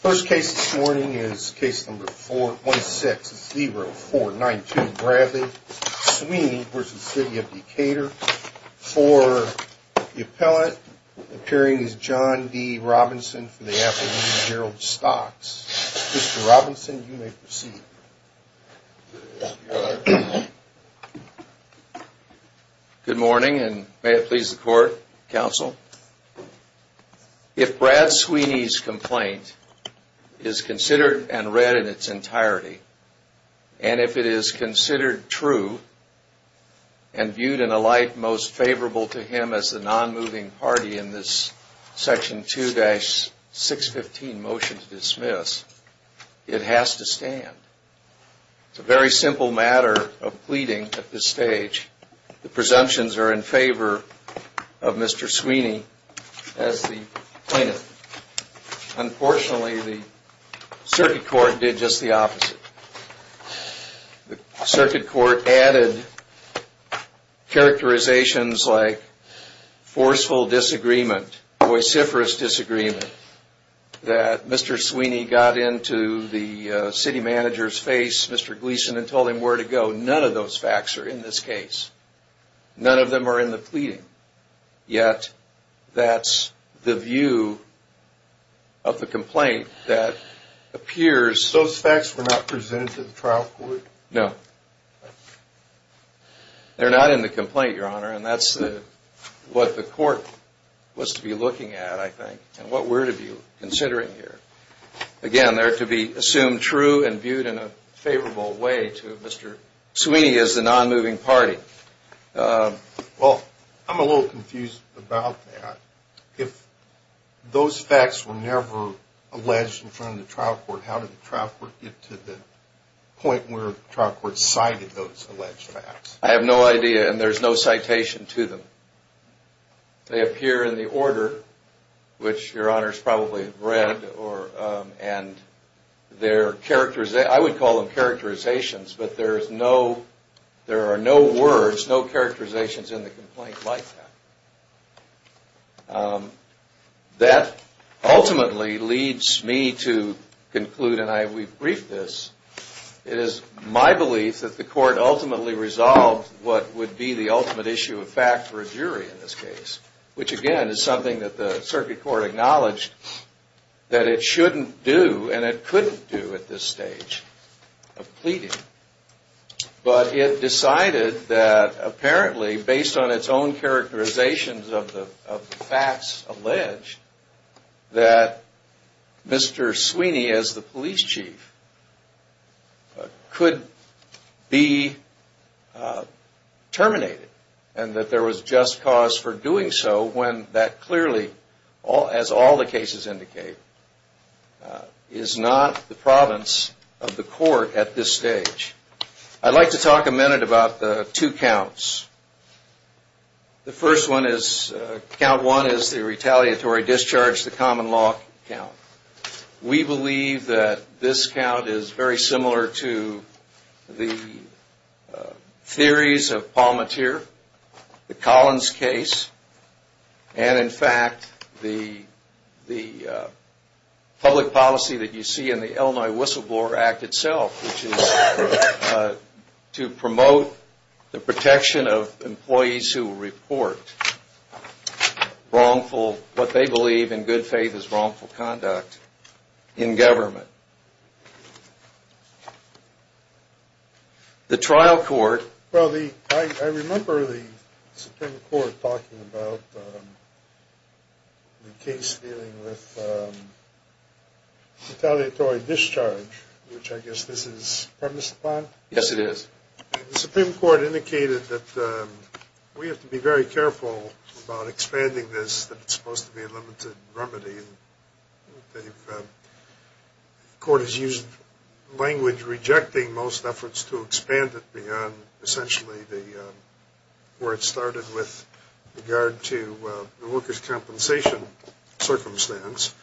First case this morning is case number 416-0492 Bradley, Sweeney v. City of Decatur. For the appellant appearing is John D. Robinson for the Appalachian Herald Stocks. Mr. Robinson, you may proceed. Good morning and may it please the court, counsel. If Brad Sweeney's complaint is considered and read in its entirety and if it is considered true and viewed in a light most favorable to him as the non-moving party in this section 2-615 motion to dismiss, it has to stand. It's a very simple matter of pleading at this stage. The presumptions are in favor of Mr. Sweeney as the plaintiff. Unfortunately, the circuit court did just the opposite. The circuit court added characterizations like forceful disagreement, voiciferous disagreement, that Mr. Sweeney got into the city manager's face, Mr. Gleason, and told him where to go. None of those facts are in this case. None of them are in the pleading. Yet that's the view of the complaint that appears. Those facts were not presented to the trial court? No. They're not in the complaint, Your Honor, and that's what the court was to be looking at, I think, and what we're to be considering here. Again, they're to be assumed true and viewed in a favorable way to Mr. Sweeney as the non-moving party. Well, I'm a little confused about that. If those facts were never alleged in front of the trial court, how did the trial court get to the point where the trial court cited those alleged facts? I have no idea, and there's no citation to them. They appear in the order, which Your Honor's probably read, and I would call them characterizations, but there are no words, no characterizations in the complaint like that. That ultimately leads me to conclude, and we've briefed this, it is my belief that the court ultimately resolved what would be the ultimate issue of fact for a jury in this case, which again is something that the circuit court acknowledged that it shouldn't do and it couldn't do at this stage of pleading. But it decided that apparently, based on its own characterizations of the facts alleged, that Mr. Sweeney as the police chief could be terminated and that there was just cause for doing so when that clearly, as all the cases indicate, is not the province of the court at this stage. I'd like to talk a minute about the two counts. The first one is, count one is the retaliatory discharge, the common law count. We believe that this count is very similar to the theories of Palmateer, the Collins case, and in fact, the public policy that you see in the Illinois Whistleblower Act itself, which is to promote the protection of employees who report wrongful, what they believe in good faith is wrongful conduct, in government. The trial court… Yes, it is. The Supreme Court indicated that we have to be very careful about expanding this, that it's supposed to be a limited remedy. The court has used language rejecting most efforts to expand it beyond essentially where it started with regard to the workers' compensation circumstance.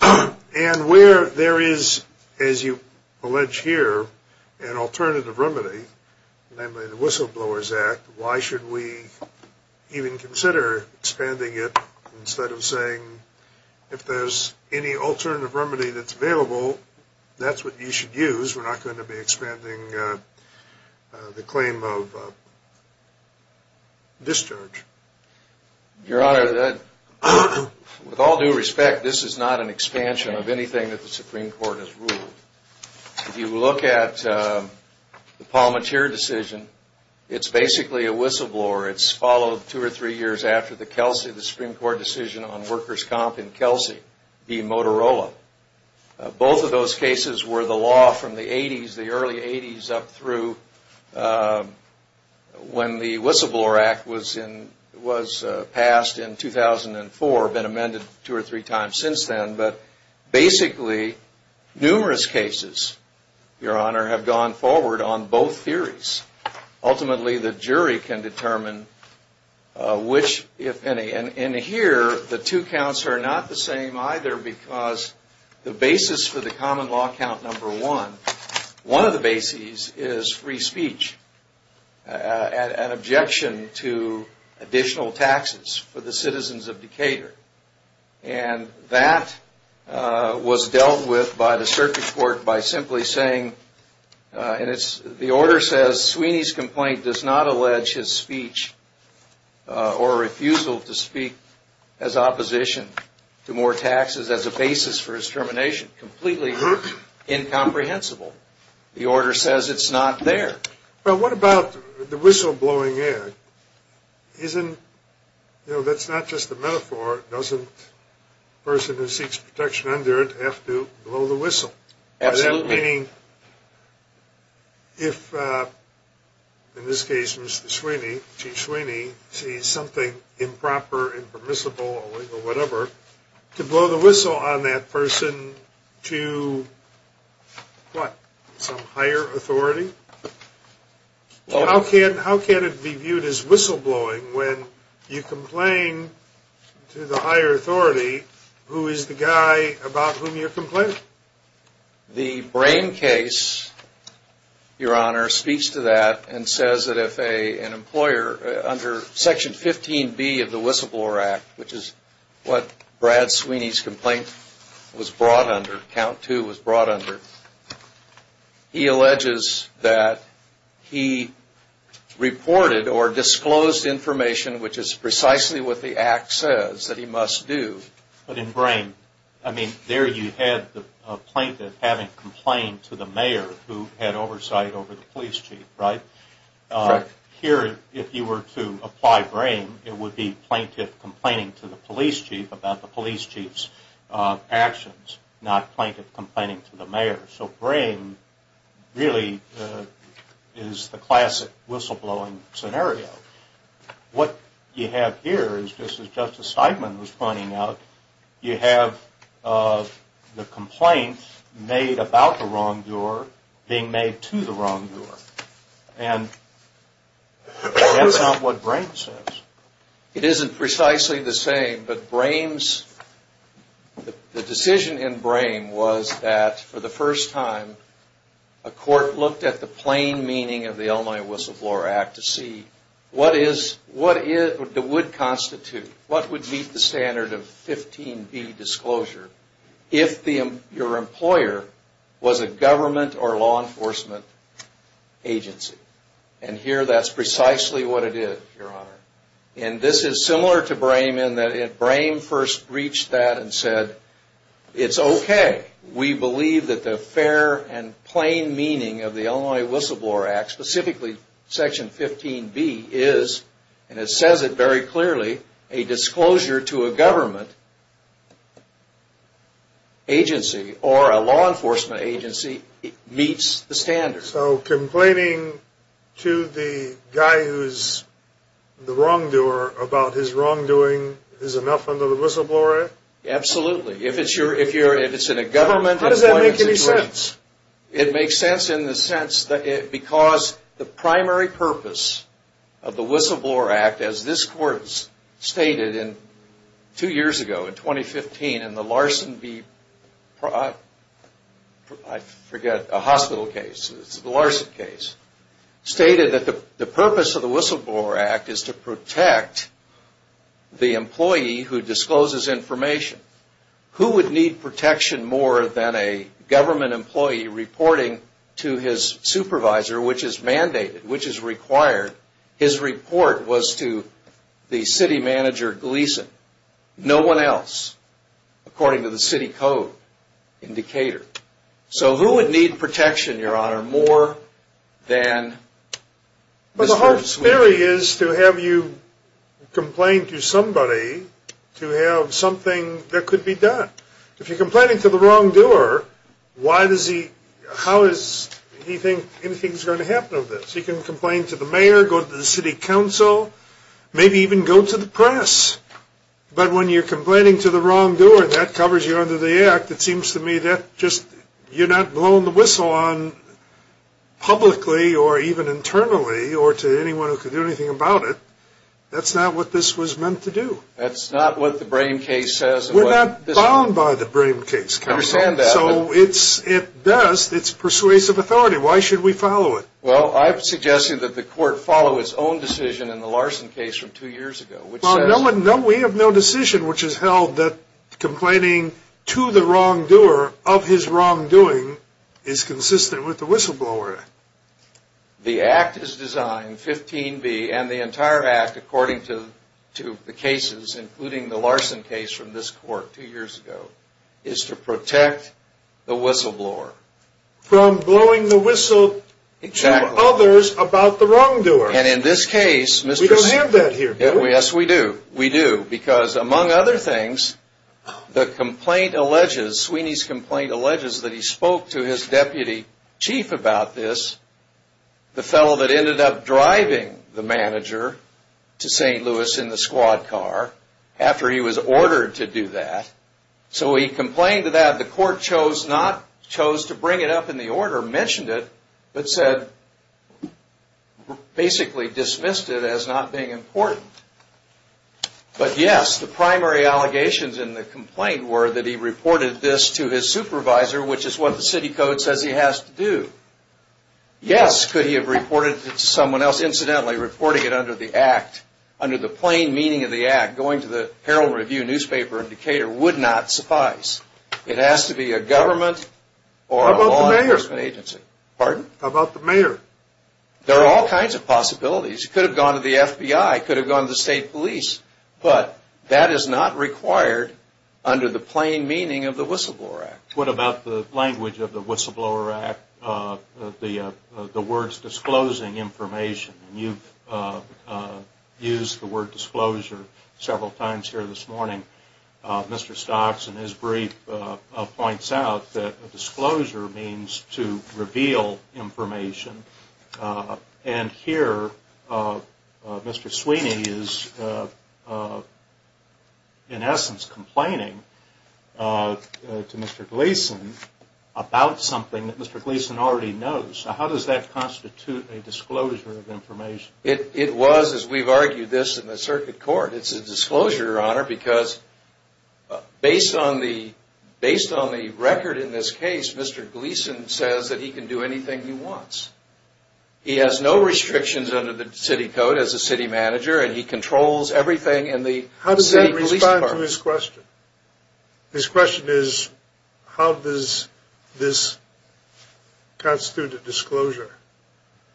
And where there is, as you allege here, an alternative remedy, namely the Whistleblowers Act, why should we even consider expanding it instead of saying, if there's any alternative remedy that's available, that's what you should use. We're not going to be expanding the claim of discharge. Your Honor, with all due respect, this is not an expansion of anything that the Supreme Court has ruled. If you look at the Palmateer decision, it's basically a whistleblower. It's followed two or three years after the Kelsey, the Supreme Court decision on workers' comp in Kelsey v. Motorola. Both of those cases were the law from the 80s, the early 80s up through when the Whistleblower Act was passed in 2004, been amended two or three times since then. But basically, numerous cases, Your Honor, have gone forward on both theories. Ultimately, the jury can determine which, if any. And here, the two counts are not the same either because the basis for the common law count number one, one of the bases is free speech and objection to additional taxes for the citizens of Decatur. And that was dealt with by the circuit court by simply saying, and the order says, Sweeney's complaint does not allege his speech or refusal to speak as opposition to more taxes as a basis for his termination. Completely incomprehensible. The order says it's not there. Well, what about the whistleblowing act? That's not just a metaphor. Doesn't a person who seeks protection under it have to blow the whistle? Absolutely. Meaning, if, in this case, Mr. Sweeney, Chief Sweeney, sees something improper, impermissible, illegal, whatever, to blow the whistle on that person to, what, some higher authority? How can it be viewed as whistleblowing when you complain to the higher authority who is the guy about whom you're complaining? The Brame case, Your Honor, speaks to that and says that if an employer, under section 15B of the whistleblower act, which is what Brad Sweeney's complaint was brought under, count two was brought under, he alleges that he reported or disclosed information which is precisely what the act says that he must do. But in Brame, I mean, there you had the plaintiff having complained to the mayor who had oversight over the police chief, right? Correct. Here, if you were to apply Brame, it would be plaintiff complaining to the police chief about the police chief's actions, not plaintiff complaining to the mayor. So Brame really is the classic whistleblowing scenario. What you have here is, just as Justice Steinman was pointing out, you have the complaint made about the wrongdoer being made to the wrongdoer. And that's not what Brame says. It isn't precisely the same, but Brame's, the decision in Brame was that for the first time, a court looked at the plain meaning of the Illinois whistleblower act to see what is, what would constitute, what would meet the standard of 15B disclosure if your employer was a government or law enforcement agency. And here, that's precisely what it is, your honor. And this is similar to Brame in that Brame first reached that and said, it's okay. We believe that the fair and plain meaning of the Illinois whistleblower act, specifically section 15B, is, and it says it very clearly, a disclosure to a government agency or a law enforcement agency meets the standard. So complaining to the guy who's the wrongdoer about his wrongdoing is enough under the whistleblower act? Absolutely. If it's your, if you're, if it's in a government. How does that make any sense? It makes sense in the sense that it, because the primary purpose of the whistleblower act, as this court stated in, two years ago, in 2015, in the Larson v., I forget, a hospital case, the Larson case, stated that the purpose of the whistleblower act is to protect the employee who discloses information. Who would need protection more than a government employee reporting to his supervisor, which is mandated, which is required? His report was to the city manager, Gleason. No one else, according to the city code indicator. So who would need protection, your honor, more than... The theory is to have you complain to somebody to have something that could be done. If you're complaining to the wrongdoer, why does he, how is he think anything's going to happen with this? He can complain to the mayor, go to the city council, maybe even go to the press. But when you're complaining to the wrongdoer, that covers you under the act. It seems to me that just, you're not blowing the whistle on publicly or even internally or to anyone who could do anything about it. That's not what this was meant to do. That's not what the Brame case says. We're not bound by the Brame case, counsel. I understand that. So it's, at best, it's persuasive authority. Why should we follow it? Well, I'm suggesting that the court follow its own decision in the Larson case from two years ago, which says... No, we have no decision which has held that complaining to the wrongdoer of his wrongdoing is consistent with the whistleblower act. The act is designed, 15b, and the entire act, according to the cases, including the Larson case from this court two years ago, is to protect the whistleblower. From blowing the whistle to others about the wrongdoer. Exactly. And in this case... We don't have that here, do we? Yes, we do. We do. Because, among other things, the complaint alleges, Sweeney's complaint alleges that he spoke to his deputy chief about this, the fellow that ended up driving the manager to St. Louis in the squad car, after he was ordered to do that. So he complained to that, the court chose to bring it up in the order, mentioned it, but said, basically dismissed it as not being important. But yes, the primary allegations in the complaint were that he reported this to his supervisor, which is what the city code says he has to do. Yes, could he have reported it to someone else, incidentally reporting it under the act, under the plain meaning of the act, going to the Herald Review newspaper in Decatur, would not suffice. It has to be a government or a law enforcement agency. Pardon? How about the mayor? There are all kinds of possibilities. He could have gone to the FBI, could have gone to the state police, but that is not required under the plain meaning of the Whistleblower Act. What about the language of the Whistleblower Act, the words disclosing information? You've used the word disclosure several times here this morning. Mr. Stocks, in his brief, points out that disclosure means to reveal information. And here, Mr. Sweeney is, in essence, complaining to Mr. Gleason about something that Mr. Gleason already knows. How does that constitute a disclosure of information? It was, as we've argued this in the circuit court, it's a disclosure, Your Honor, because based on the record in this case, Mr. Gleason says that he can do anything he wants. He has no restrictions under the city code as a city manager, and he controls everything in the city police department. How does that respond to his question? His question is, how does this constitute a disclosure?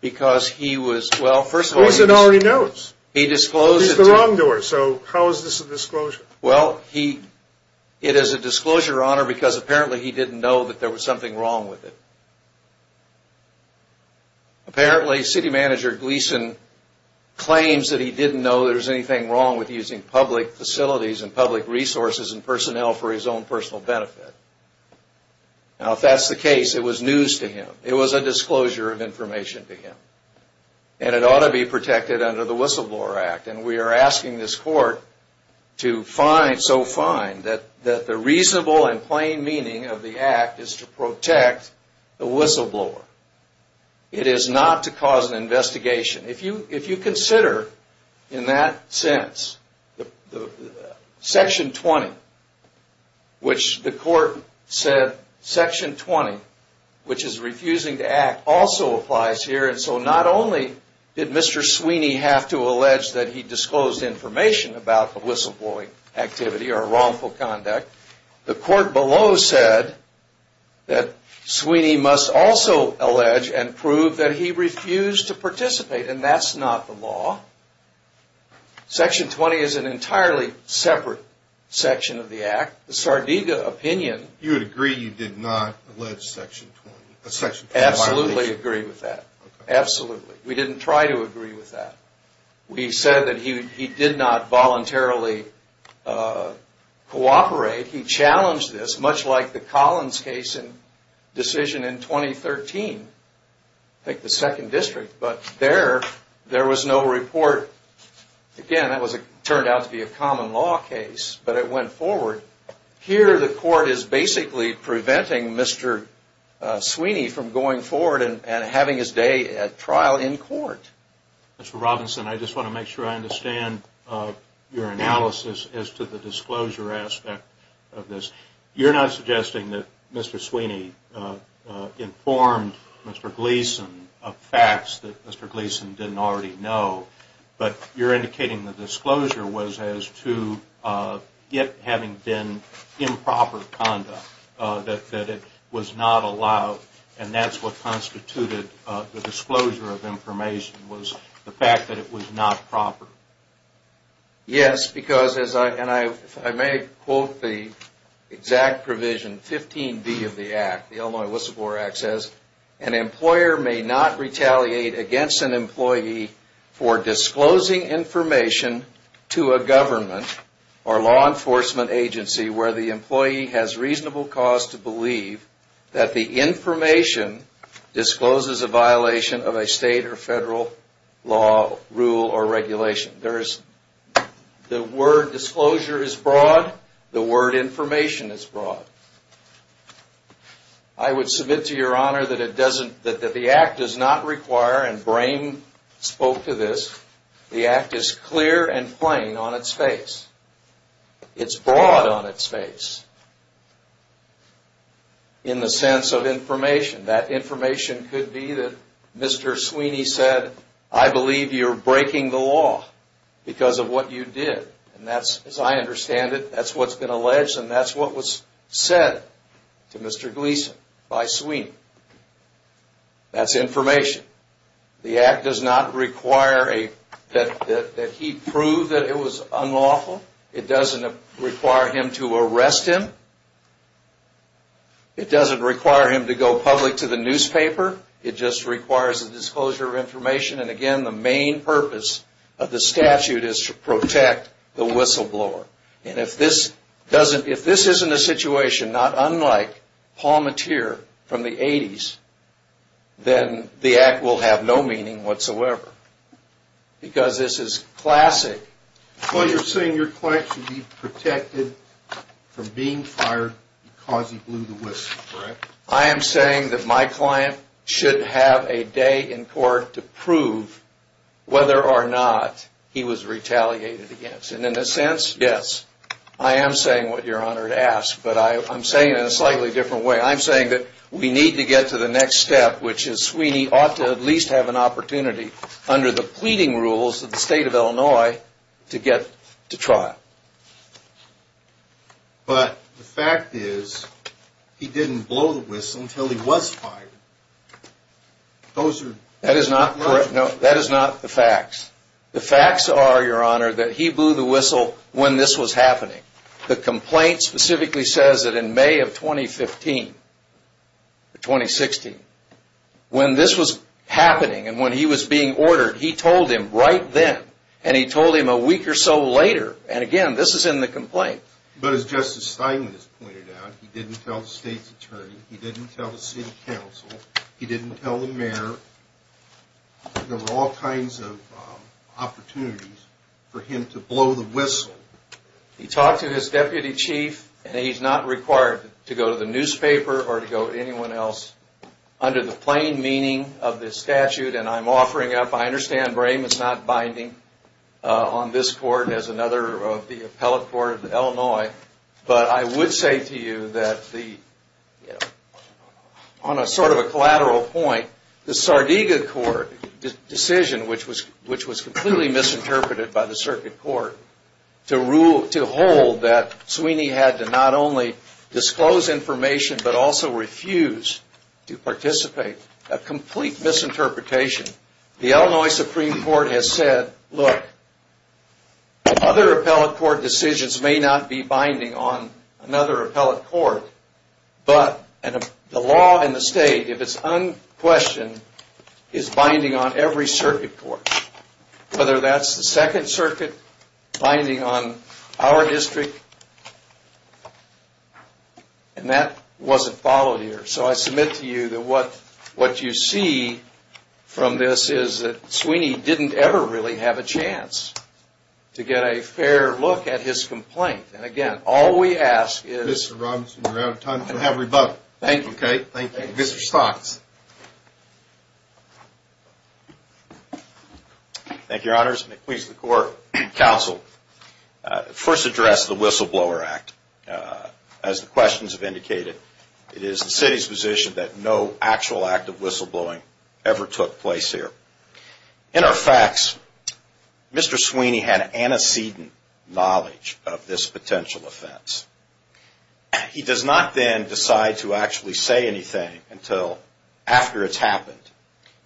Because he was, well, first of all... Gleason already knows. He disclosed it. He's the wrongdoer, so how is this a disclosure? Well, it is a disclosure, Your Honor, because apparently he didn't know that there was something wrong with it. Apparently, city manager Gleason claims that he didn't know there was anything wrong with using public facilities and public resources and personnel for his own personal benefit. Now, if that's the case, it was news to him. It was a disclosure of information to him, and it ought to be protected under the Whistleblower Act. And we are asking this Court to find so fine that the reasonable and plain meaning of the Act is to protect the whistleblower. It is not to cause an investigation. If you consider, in that sense, Section 20, which the Court said Section 20, which is refusing to act, also applies here. And so not only did Mr. Sweeney have to allege that he disclosed information about the whistleblowing activity or wrongful conduct, the Court below said that Sweeney must also allege and prove that he refused to participate, and that's not the law. Section 20 is an entirely separate section of the Act. The Sardega opinion... You would agree you did not allege Section 20? Absolutely agree with that. Absolutely. We didn't try to agree with that. We said that he did not voluntarily cooperate. He challenged this, much like the Collins case and decision in 2013, I think the Second District. But there, there was no report. Again, that turned out to be a common law case, but it went forward. Here, the Court is basically preventing Mr. Sweeney from going forward and having his day at trial in court. Mr. Robinson, I just want to make sure I understand your analysis as to the disclosure aspect of this. You're not suggesting that Mr. Sweeney informed Mr. Gleeson of facts that Mr. Gleeson didn't already know, but you're indicating the disclosure was as to it having been improper conduct, that it was not allowed, and that's what constituted the disclosure of information was the fact that it was not proper. Yes, because, and I may quote the exact provision, 15B of the Act, the Illinois Whistleblower Act says, an employer may not retaliate against an employee for disclosing information to a government or law enforcement agency where the employee has reasonable cause to believe that the information discloses a violation of a state or federal law, rule, or regulation. The word disclosure is broad. The word information is broad. I would submit to Your Honor that the Act does not require, and Brame spoke to this, the Act is clear and plain on its face. It's broad on its face in the sense of information. That information could be that Mr. Sweeney said, I believe you're breaking the law because of what you did. And that's, as I understand it, that's what's been alleged and that's what was said to Mr. Gleeson by Sweeney. That's information. The Act does not require that he prove that it was unlawful. It doesn't require him to arrest him. It doesn't require him to go public to the newspaper. It just requires a disclosure of information. And again, the main purpose of the statute is to protect the whistleblower. And if this isn't a situation not unlike Palmatier from the 80s, then the Act will have no meaning whatsoever. Because this is classic. Well, you're saying your client should be protected from being fired because he blew the whistle, correct? I am saying that my client should have a day in court to prove whether or not he was retaliated against. And in a sense, yes, I am saying what you're honored to ask. But I'm saying it in a slightly different way. I'm saying that we need to get to the next step, which is Sweeney ought to at least have an opportunity, under the pleading rules of the state of Illinois, to get to trial. But the fact is, he didn't blow the whistle until he was fired. Those are... That is not correct. No, that is not the facts. The facts are, your honor, that he blew the whistle when this was happening. The complaint specifically says that in May of 2015 or 2016, when this was happening and when he was being ordered, he told him right then, and he told him a week or so later. And again, this is in the complaint. But as Justice Steinman has pointed out, he didn't tell the state's attorney. He didn't tell the city council. He didn't tell the mayor. There were all kinds of opportunities for him to blow the whistle. He talked to his deputy chief, and he's not required to go to the newspaper or to go to anyone else. Under the plain meaning of this statute, and I'm offering up, I understand Brame is not binding on this court as another of the appellate court of Illinois. But I would say to you that on sort of a collateral point, the Sardega Court decision, which was completely misinterpreted by the circuit court, to hold that Sweeney had to not only disclose information, but also refuse to participate. A complete misinterpretation. The Illinois Supreme Court has said, look, other appellate court decisions may not be binding on another appellate court, but the law and the state, if it's unquestioned, is binding on every circuit court. Whether that's the Second Circuit, binding on our district, and that wasn't followed here. So I submit to you that what you see from this is that Sweeney didn't ever really have a chance to get a fair look at his complaint. And again, all we ask is... Mr. Robinson, we're out of time, so have a rebuttal. Thank you. Mr. Stocks. Thank you, Your Honors. McQueen's Court Counsel first addressed the Whistleblower Act. As the questions have indicated, it is the city's position that no actual act of whistleblowing ever took place here. In our facts, Mr. Sweeney had antecedent knowledge of this potential offense. He does not then decide to actually say anything until after it's happened.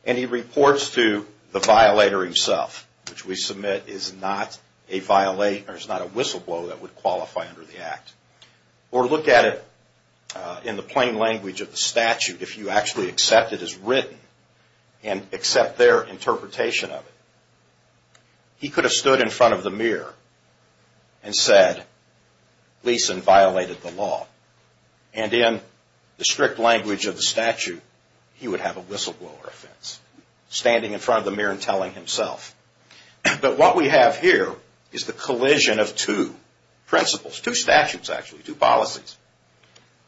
And he reports to the violator himself, which we submit is not a whistleblower that would qualify under the act. Or look at it in the plain language of the statute, if you actually accept it as written and accept their interpretation of it. He could have stood in front of the mirror and said, Gleason violated the law. And in the strict language of the statute, he would have a whistleblower offense, standing in front of the mirror and telling himself. But what we have here is the collision of two principles, two statutes, actually, two policies.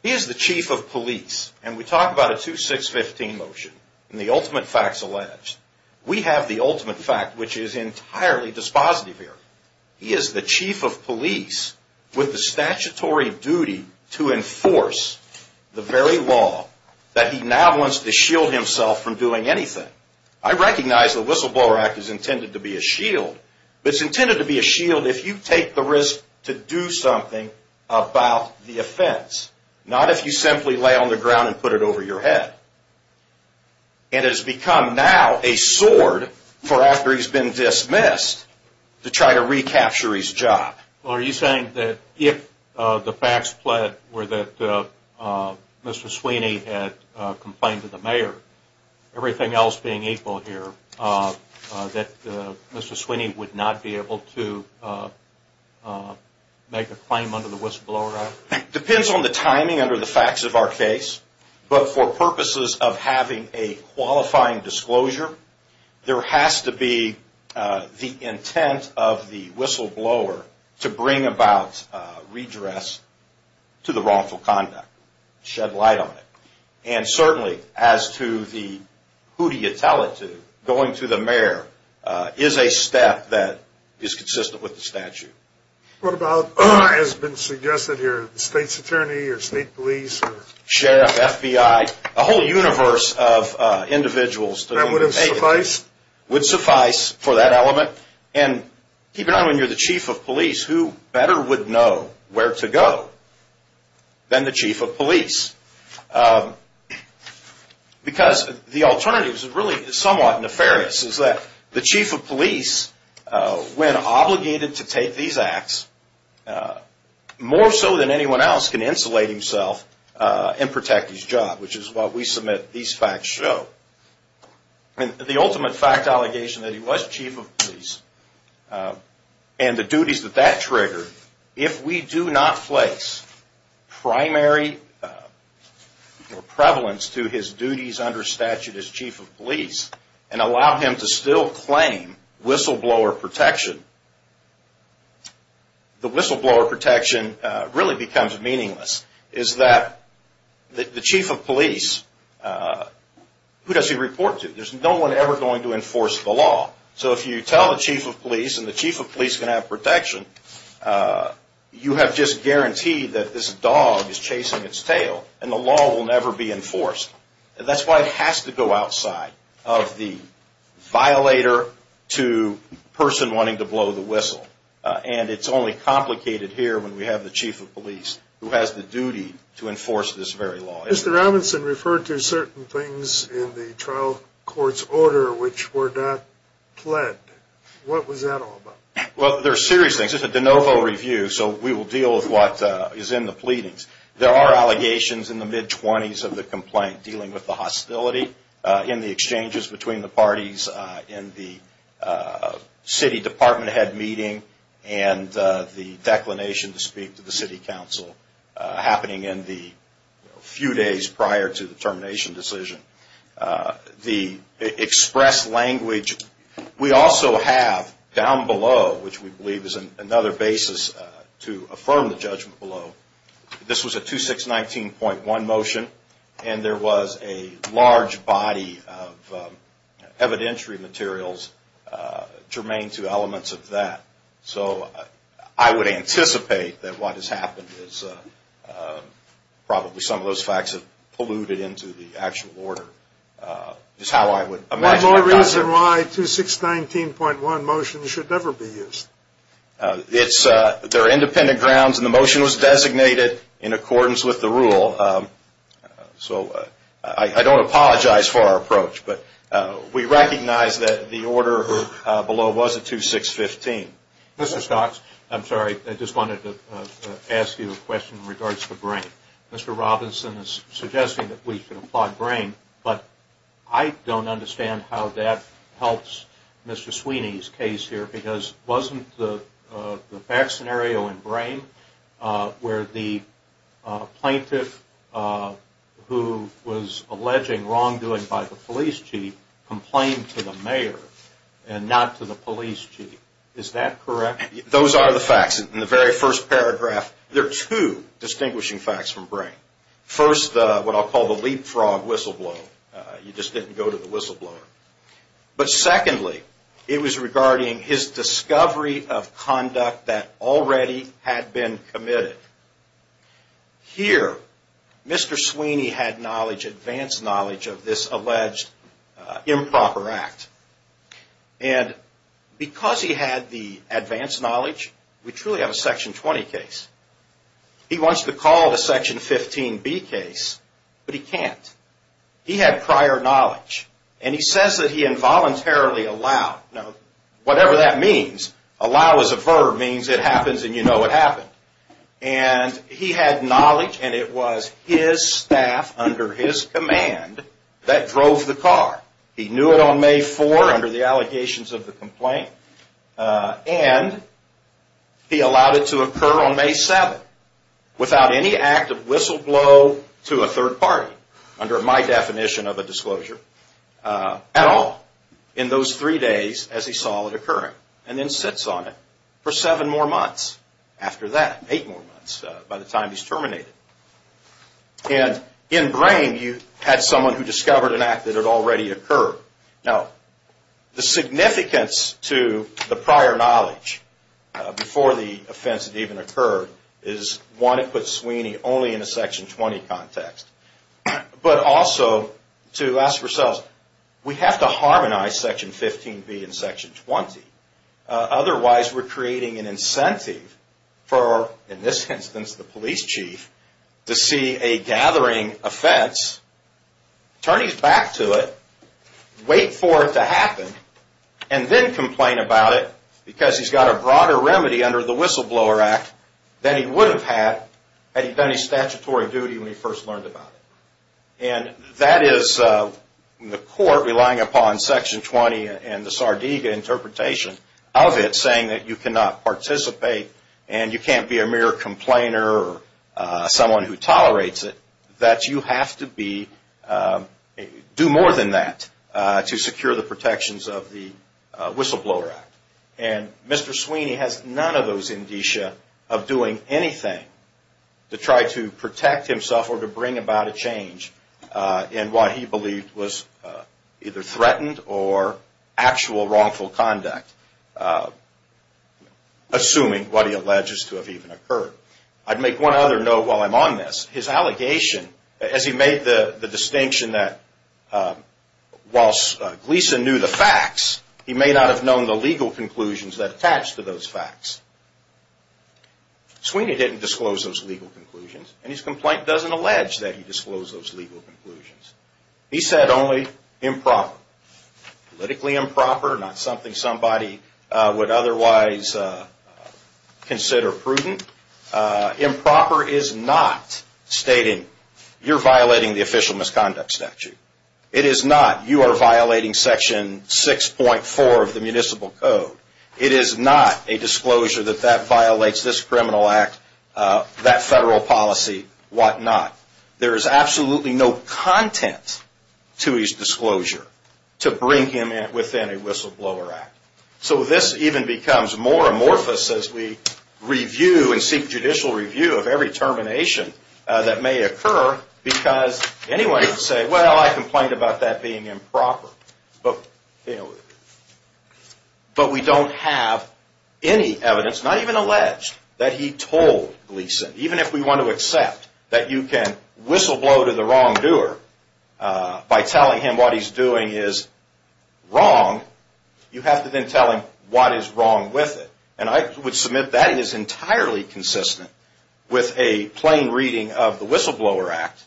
He is the chief of police, and we talk about a 2-6-15 motion in the ultimate facts alleged. We have the ultimate fact, which is entirely dispositive here. He is the chief of police with the statutory duty to enforce the very law that he now wants to shield himself from doing anything. I recognize the Whistleblower Act is intended to be a shield, but it's intended to be a shield if you take the risk to do something about the offense, not if you simply lay on the ground and put it over your head. And it has become now a sword for after he's been dismissed to try to recapture his job. Well, are you saying that if the facts were that Mr. Sweeney had complained to the mayor, everything else being equal here, that Mr. Sweeney would not be able to make a claim under the Whistleblower Act? It depends on the timing under the facts of our case. But for purposes of having a qualifying disclosure, there has to be the intent of the whistleblower to bring about redress to the wrongful conduct, shed light on it. And certainly, as to the who do you tell it to, going to the mayor is a step that is consistent with the statute. What about, as has been suggested here, the state's attorney or state police? Sheriff, FBI, a whole universe of individuals. That would suffice? Would suffice for that element. And keep in mind, when you're the chief of police, who better would know where to go than the chief of police? Because the alternative is really somewhat nefarious, is that the chief of police, when obligated to take these acts, more so than anyone else, can insulate himself and protect his job, which is what we submit these facts show. The ultimate fact allegation that he was chief of police, and the duties that that triggered, if we do not place primary prevalence to his duties under statute as chief of police, and allow him to still claim whistleblower protection, the whistleblower protection really becomes meaningless. What that means is that the chief of police, who does he report to? There's no one ever going to enforce the law. So if you tell the chief of police, and the chief of police can have protection, you have just guaranteed that this dog is chasing its tail, and the law will never be enforced. That's why it has to go outside of the violator to person wanting to blow the whistle. And it's only complicated here when we have the chief of police who has the duty to enforce this very law. Mr. Robinson referred to certain things in the trial court's order which were not pled. What was that all about? Well, they're serious things. It's a de novo review, so we will deal with what is in the pleadings. There are allegations in the mid-20s of the complaint dealing with the hostility in the exchanges between the parties, in the city department head meeting, and the declination to speak to the city council, happening in the few days prior to the termination decision. The express language, we also have down below, which we believe is another basis to affirm the judgment below, this was a 2619.1 motion, and there was a large body of evidentiary materials germane to elements of that. So I would anticipate that what has happened is probably some of those facts have polluted into the actual order. One more reason why 2619.1 motions should never be used. They're independent grounds and the motion was designated in accordance with the rule. So I don't apologize for our approach, but we recognize that the order below was a 2615. Mr. Stocks, I'm sorry, I just wanted to ask you a question in regards to brain. Mr. Robinson is suggesting that we should apply brain, but I don't understand how that helps Mr. Sweeney's case here because wasn't the fact scenario in brain where the plaintiff who was alleging wrongdoing by the police chief complained to the mayor and not to the police chief, is that correct? Those are the facts in the very first paragraph. There are two distinguishing facts from brain. First, what I'll call the leapfrog whistleblower, you just didn't go to the whistleblower. But secondly, it was regarding his discovery of conduct that already had been committed. Here, Mr. Sweeney had knowledge, advanced knowledge of this alleged improper act. And because he had the advanced knowledge, we truly have a Section 20 case. He wants to call it a Section 15B case, but he can't. He had prior knowledge, and he says that he involuntarily allowed. Now, whatever that means, allow is a verb, means it happens and you know it happened. And he had knowledge, and it was his staff under his command that drove the car. He knew it on May 4 under the allegations of the complaint, and he allowed it to occur on May 7 without any act of whistleblow to a third party, under my definition of a disclosure at all, in those three days as he saw it occurring, and then sits on it for seven more months after that, eight more months by the time he's terminated. And in brain, you had someone who discovered an act that had already occurred. Now, the significance to the prior knowledge before the offense had even occurred is, one, it puts Sweeney only in a Section 20 context. But also, to ask ourselves, we have to harmonize Section 15B and Section 20. Otherwise, we're creating an incentive for, in this instance, the police chief, to see a gathering offense. Turn his back to it, wait for it to happen, and then complain about it, because he's got a broader remedy under the Whistleblower Act than he would have had had he done his statutory duty when he first learned about it. And that is the court relying upon Section 20 and the Sardegna interpretation of it, saying that you cannot participate and you can't be a mere complainer or someone who tolerates it. That you have to do more than that to secure the protections of the Whistleblower Act. And Mr. Sweeney has none of those indicia of doing anything to try to protect himself or to bring about a change in what he believed was either threatened or actual wrongful conduct, assuming what he alleges to have even occurred. I'd make one other note while I'm on this. His allegation, as he made the distinction that while Gleason knew the facts, he may not have known the legal conclusions that attached to those facts. Sweeney didn't disclose those legal conclusions, and his complaint doesn't allege that he disclosed those legal conclusions. He said only improper. Politically improper, not something somebody would otherwise consider prudent. Improper is not stating you're violating the official misconduct statute. It is not you are violating Section 6.4 of the Municipal Code. It is not a disclosure that that violates this criminal act, that federal policy, whatnot. There is absolutely no content to his disclosure to bring him within a Whistleblower Act. So this even becomes more amorphous as we review and seek judicial review of every termination that may occur because anyone can say, well, I complained about that being improper. But we don't have any evidence, not even alleged, that he told Gleason. Even if we want to accept that you can whistleblow to the wrongdoer by telling him what he's doing is wrong, you have to then tell him what is wrong with it. And I would submit that is entirely consistent with a plain reading of the Whistleblower Act.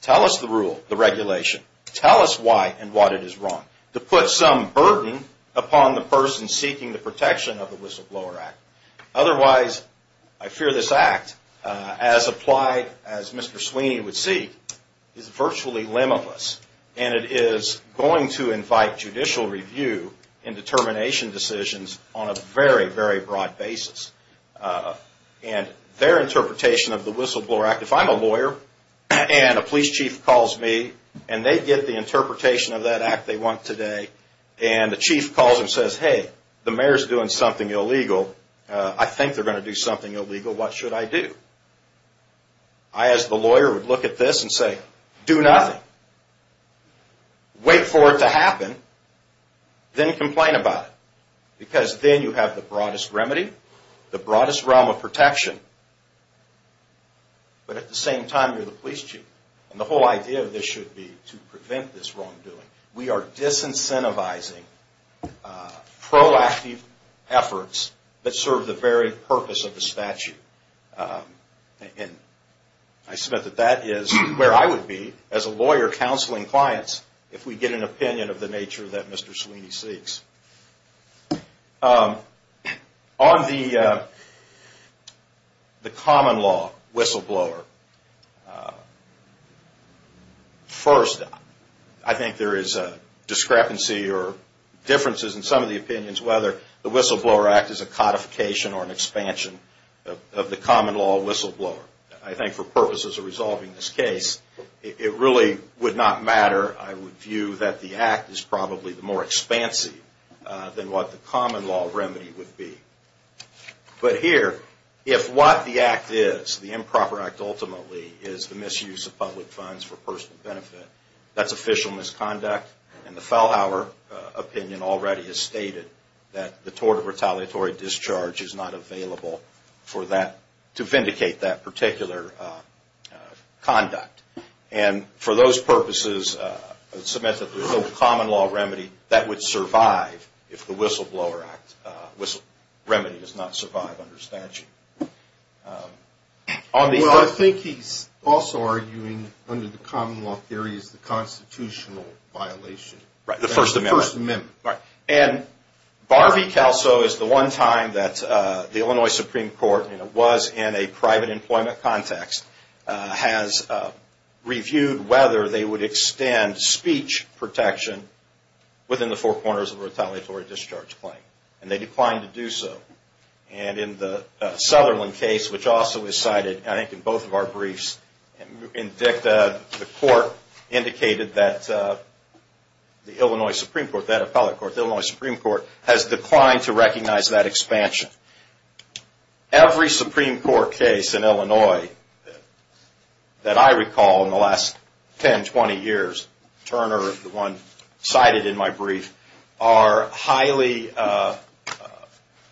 Tell us the rule, the regulation. Tell us why and what it is wrong. To put some burden upon the person seeking the protection of the Whistleblower Act. Otherwise, I fear this act, as applied as Mr. Sweeney would seek, is virtually limitless. And it is going to invite judicial review in determination decisions on a very, very broad basis. And their interpretation of the Whistleblower Act, if I'm a lawyer and a police chief calls me and they get the interpretation of that act they want today, and the chief calls and says, hey, the mayor's doing something illegal, I think they're going to do something illegal, what should I do? I, as the lawyer, would look at this and say, do nothing. Wait for it to happen, then complain about it. Because then you have the broadest remedy, the broadest realm of protection. But at the same time, you're the police chief. And the whole idea of this should be to prevent this wrongdoing. We are disincentivizing proactive efforts that serve the very purpose of the statute. And I submit that that is where I would be, as a lawyer counseling clients, if we get an opinion of the nature that Mr. Sweeney seeks. On the common law whistleblower, first, I think there is a discrepancy or differences in some of the opinions whether the Whistleblower Act is a codification or an expansion of the common law whistleblower. I think for purposes of resolving this case, it really would not matter. I would view that the act is probably more expansive than what the common law remedy would be. But here, if what the act is, the improper act ultimately, is the misuse of public funds for personal benefit, that's official misconduct. And the Fellhauer opinion already has stated that the tort of retaliatory discharge is not available to vindicate that particular conduct. And for those purposes, I would submit that there is no common law remedy that would survive if the Whistleblower Act remedy does not survive under statute. Well, I think he's also arguing under the common law theory is the constitutional violation. The First Amendment. And Barbie Calso is the one time that the Illinois Supreme Court, and it was in a private employment context, has reviewed whether they would extend speech protection within the four corners of a retaliatory discharge claim. And they declined to do so. And in the Sutherland case, which also is cited, I think in both of our briefs, the Illinois Supreme Court has declined to recognize that expansion. Every Supreme Court case in Illinois that I recall in the last 10, 20 years, Turner, the one cited in my brief, are highly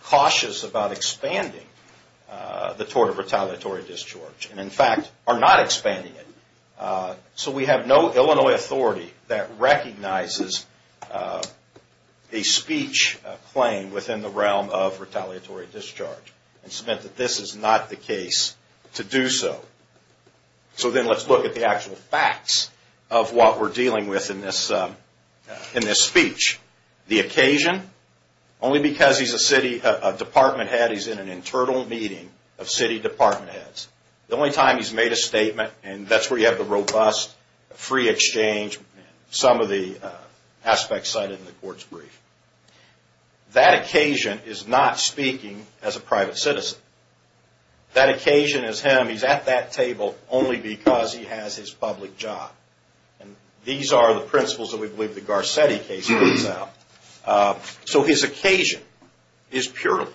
cautious about expanding the tort of retaliatory discharge. And in fact, are not expanding it. And so I would submit that this is not the case to do so. So then let's look at the actual facts of what we're dealing with in this speech. The occasion, only because he's a city department head, he's in an internal meeting of city department heads. The only time he's made a statement, and that's where you have the robust free exchange, some of the aspects cited in the court's brief. That occasion is not speaking as a private citizen. That occasion is him, he's at that table only because he has his public job. And these are the principles that we believe the Garcetti case lays out. So his occasion is purely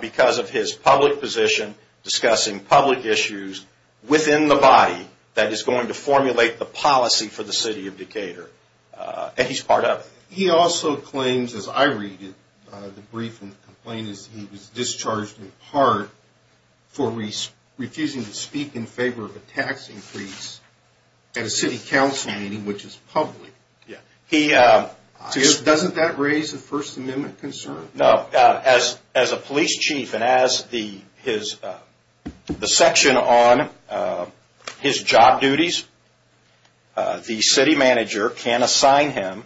because of his public position, discussing public issues within the body that is going to formulate the policy for the city of Decatur. And he's part of it. He also claims, as I read it, the brief and the complaint is that he was discharged in part for refusing to speak in favor of a tax increase at a city council meeting, which is public. Doesn't that raise a First Amendment concern? No. As a police chief and as the section on his job duties, the city manager can assign him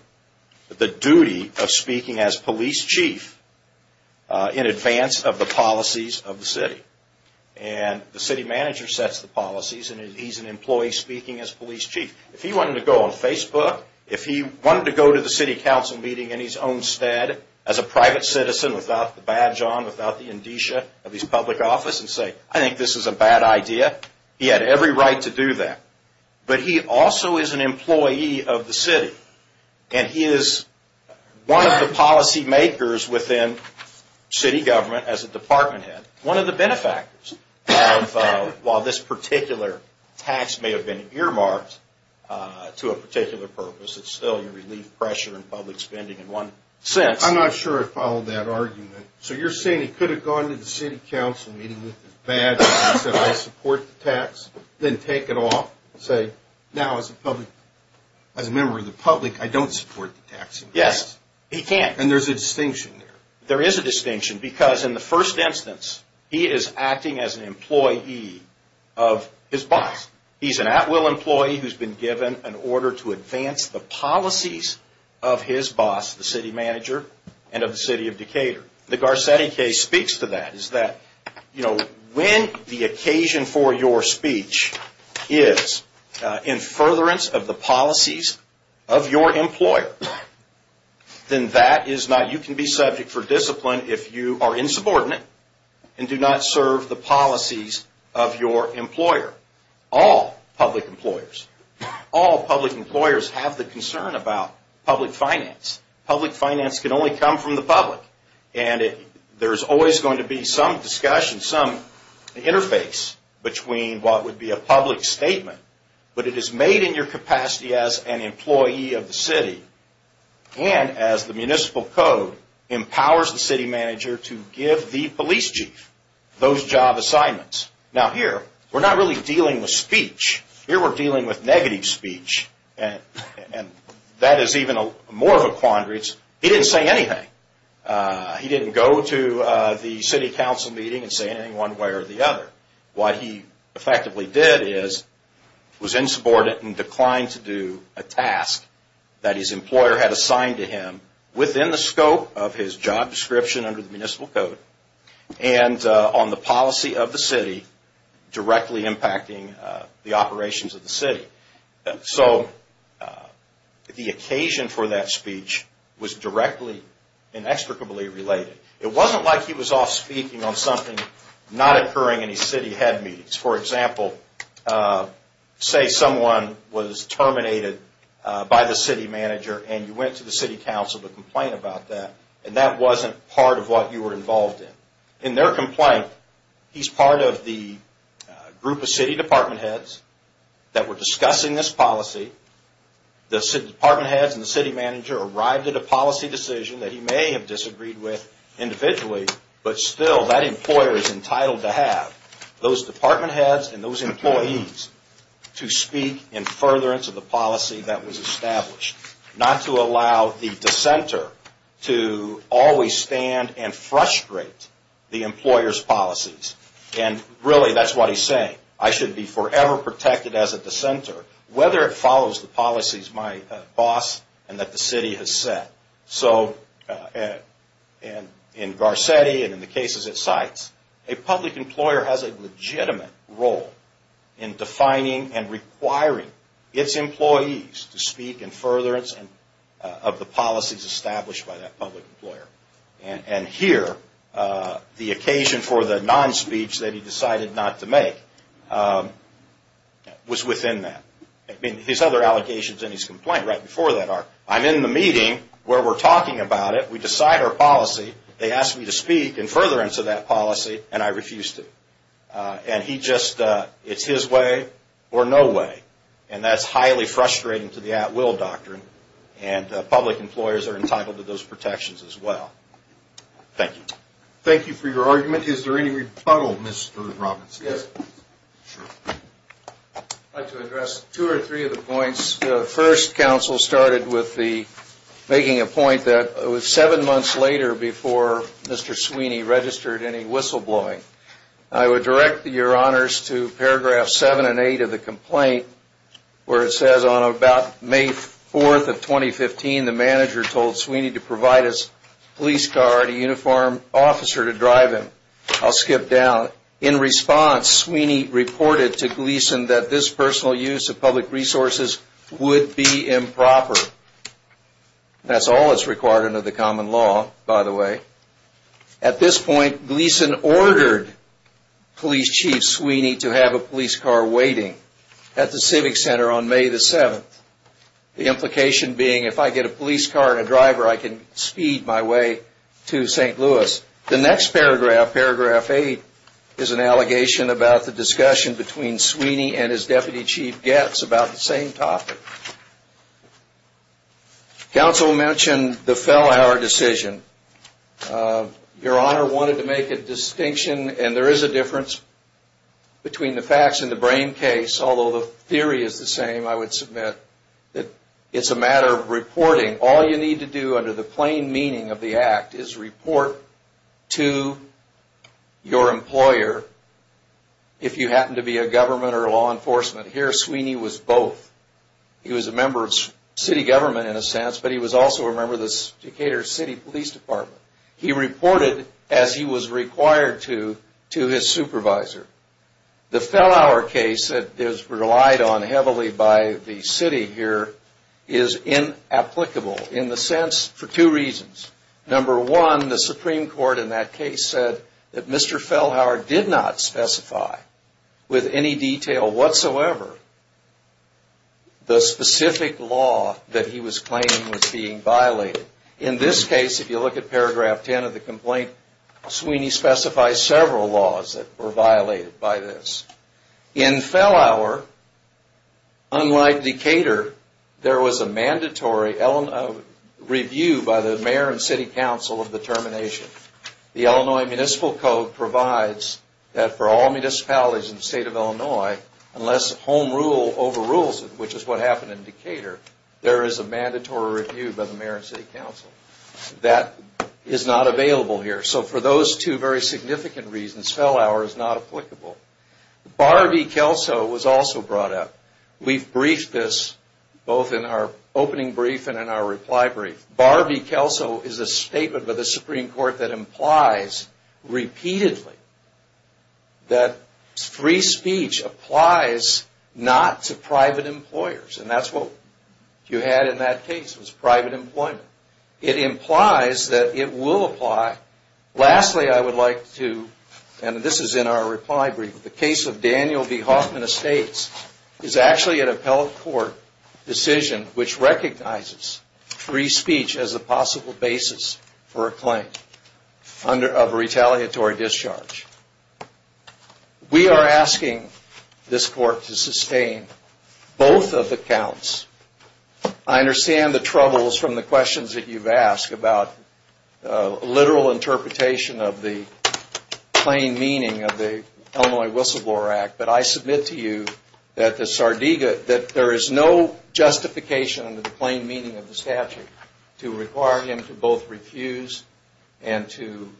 the duty of speaking as police chief in advance of the policies of the city. And the city manager sets the policies and he's an employee speaking as police chief. If he wanted to go on Facebook, if he wanted to go to the city council meeting in his own stead, as a private citizen without the badge on, without the indicia of his public office and say, I think this is a bad idea, he had every right to do that. But he also is an employee of the city. And he is one of the policy makers within city government as a department head. One of the benefactors of, while this particular tax may have been earmarked to a particular purpose, it's still your relief pressure and public spending in one sense. I'm not sure I followed that argument. So you're saying he could have gone to the city council meeting with his badge and said, I support the tax, then take it off and say, now as a member of the public, I don't support the tax increase. Yes, he can. And there's a distinction there. There is a distinction because in the first instance, he is acting as an employee of his boss. He's an at-will employee who's been given an order to advance the policies of his boss, the city manager and of the city of Decatur. The Garcetti case speaks to that, is that when the occasion for your speech is in furtherance of the policies of your employer, then that is not, you can be subject for discipline if you are insubordinate and do not serve the policies of your employer. All public employers, all public employers have the concern about public finance. Public finance can only come from the public. And there's always going to be some discussion, some interface between what would be a public statement, but it is made in your capacity as an employee of the city and as the municipal code empowers the city manager to give the police chief those job assignments. Now here, we're not really dealing with speech. Here we're dealing with negative speech. And that is even more of a quandary. He didn't say anything. He didn't go to the city council meeting and say anything one way or the other. What he effectively did is was insubordinate and declined to do a task that his employer had assigned to him within the scope of his job description under the municipal code and on the occasion for that speech was directly and extricably related. It wasn't like he was off speaking on something not occurring in his city head meetings. For example, say someone was terminated by the city manager and you went to the city council to complain about that and that wasn't part of what you were involved in. In their complaint, he's part of the group of city department heads that were discussing this policy. The city department heads and the city manager arrived at a policy decision that he may have disagreed with individually, but still that employer is entitled to have those department heads and those employees to speak in furtherance of the policy that was established. Not to allow the dissenter to always stand and frustrate the employer's policies. Really, that's what he's saying. I should be forever protected as a dissenter, whether it follows the policies my boss and that the city has set. In Garcetti and in the cases it cites, a public employer has a legitimate role in defining and requiring its employees to speak in furtherance of the policies established by that public employer. Here, the occasion for the non-speech that he decided not to make was within that. His other allegations in his complaint right before that are, I'm in the meeting where we're talking about it, we decide our policy, they ask me to speak in furtherance of that policy, and I refuse to. It's his way or no way. That's highly frustrating to the at-will doctrine. Public employers are entitled to those protections as well. Thank you. Thank you for your argument. Is there any rebuttal, Mr. Robinson? Yes. I'd like to address two or three of the points. The first counsel started with making a point that it was seven months later before Mr. Sweeney registered any whistleblowing. I would direct your honors to paragraph 7 and 8 of the complaint where it says, on about May 4th of 2015, the manager told Sweeney to provide his police car and a uniformed officer to drive him. I'll skip down. In response, Sweeney reported to Gleason that this personal use of public resources would be improper. That's all that's required under the common law, by the way. At this point, Gleason ordered police chief Sweeney to have a police car waiting at the The next paragraph, paragraph 8, is an allegation about the discussion between Sweeney and his deputy chief Getz about the same topic. Counsel mentioned the fell-hour decision. Your honor wanted to make a distinction, and there is a difference between the facts and the brain case, although the theory is the same, I would submit, that it's a matter of reporting. All you need to do under the plain meaning of the act is report to your employer, if you happen to be a government or law enforcement. Here, Sweeney was both. He was a member of city government, in a sense, but he was also a member of the Decatur City Police Department. He reported as he was required to to his supervisor. The fell-hour case that is relied on heavily by the city here is inapplicable, in the sense, for two reasons. Number one, the Supreme Court in that case said that Mr. Fell-hour did not specify, with any detail whatsoever, the specific law that he was claiming was being violated by this. In Fell-hour, unlike Decatur, there was a mandatory review by the Mayor and City Council of the termination. The Illinois Municipal Code provides that for all municipalities in the state of Illinois, unless home rule overrules it, which is what happened in Decatur, there is a mandatory review by the Mayor and City Council. That is not available here. So for those two very significant reasons, Fell-hour is not applicable. Barbie Kelso was also brought up. We've briefed this both in our opening brief and in our reply brief. Barbie Kelso is a statement by the Supreme Court that implies repeatedly that free speech applies not to private employers. And that's what you had in that case, was private employment. It implies that it will apply. Lastly, I would like to, and this is in our reply brief, the case of Daniel B. Hoffman Estates is actually an appellate court decision which recognizes free speech as a possible basis for a claim of retaliatory discharge. We are asking this court to sustain both of the counts. I understand the troubles from the questions that you've asked about literal interpretation of the plain meaning of the Illinois Whistleblower Act, but I submit to you that there is no justification under the plain meaning of the statute to require him to both refuse and to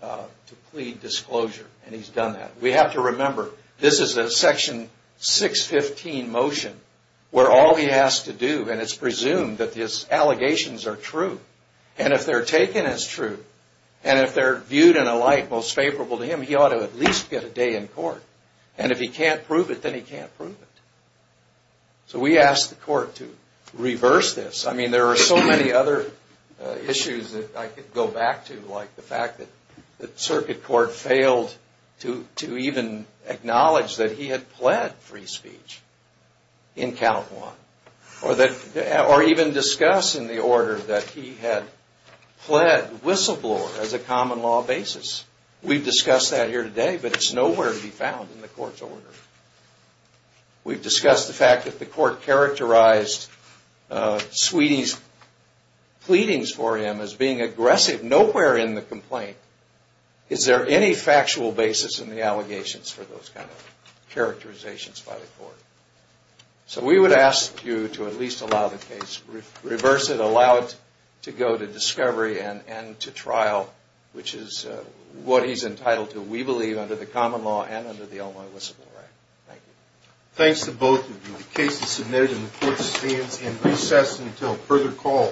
plead disclosure. And he's done that. We have to remember, this is a Section 615 motion where all he has to do, and it's presumed, that his allegations are true. And if they're taken as true, and if they're viewed in a light most favorable to him, he ought to at least get a day in court. And if he can't prove it, then he can't prove it. So we ask the court to reverse this. I mean, there are so many other issues that I could go back to, like the fact that Circuit Court failed to even acknowledge that he had pled free speech in Count 1, or even discuss in the order that he had Whistleblower as a common law basis. We've discussed that here today, but it's nowhere to be found in the court's order. We've discussed the fact that the court characterized pleadings for him as being aggressive. Nowhere in the complaint is there any factual basis in the allegations for those kind of characterizations by the court. So we would ask you to at least allow the case, reverse it, allow it to go to discovery and to trial, which is what he's entitled to, we believe, under the common law and under the Illinois Whistleblower Act. Thank you.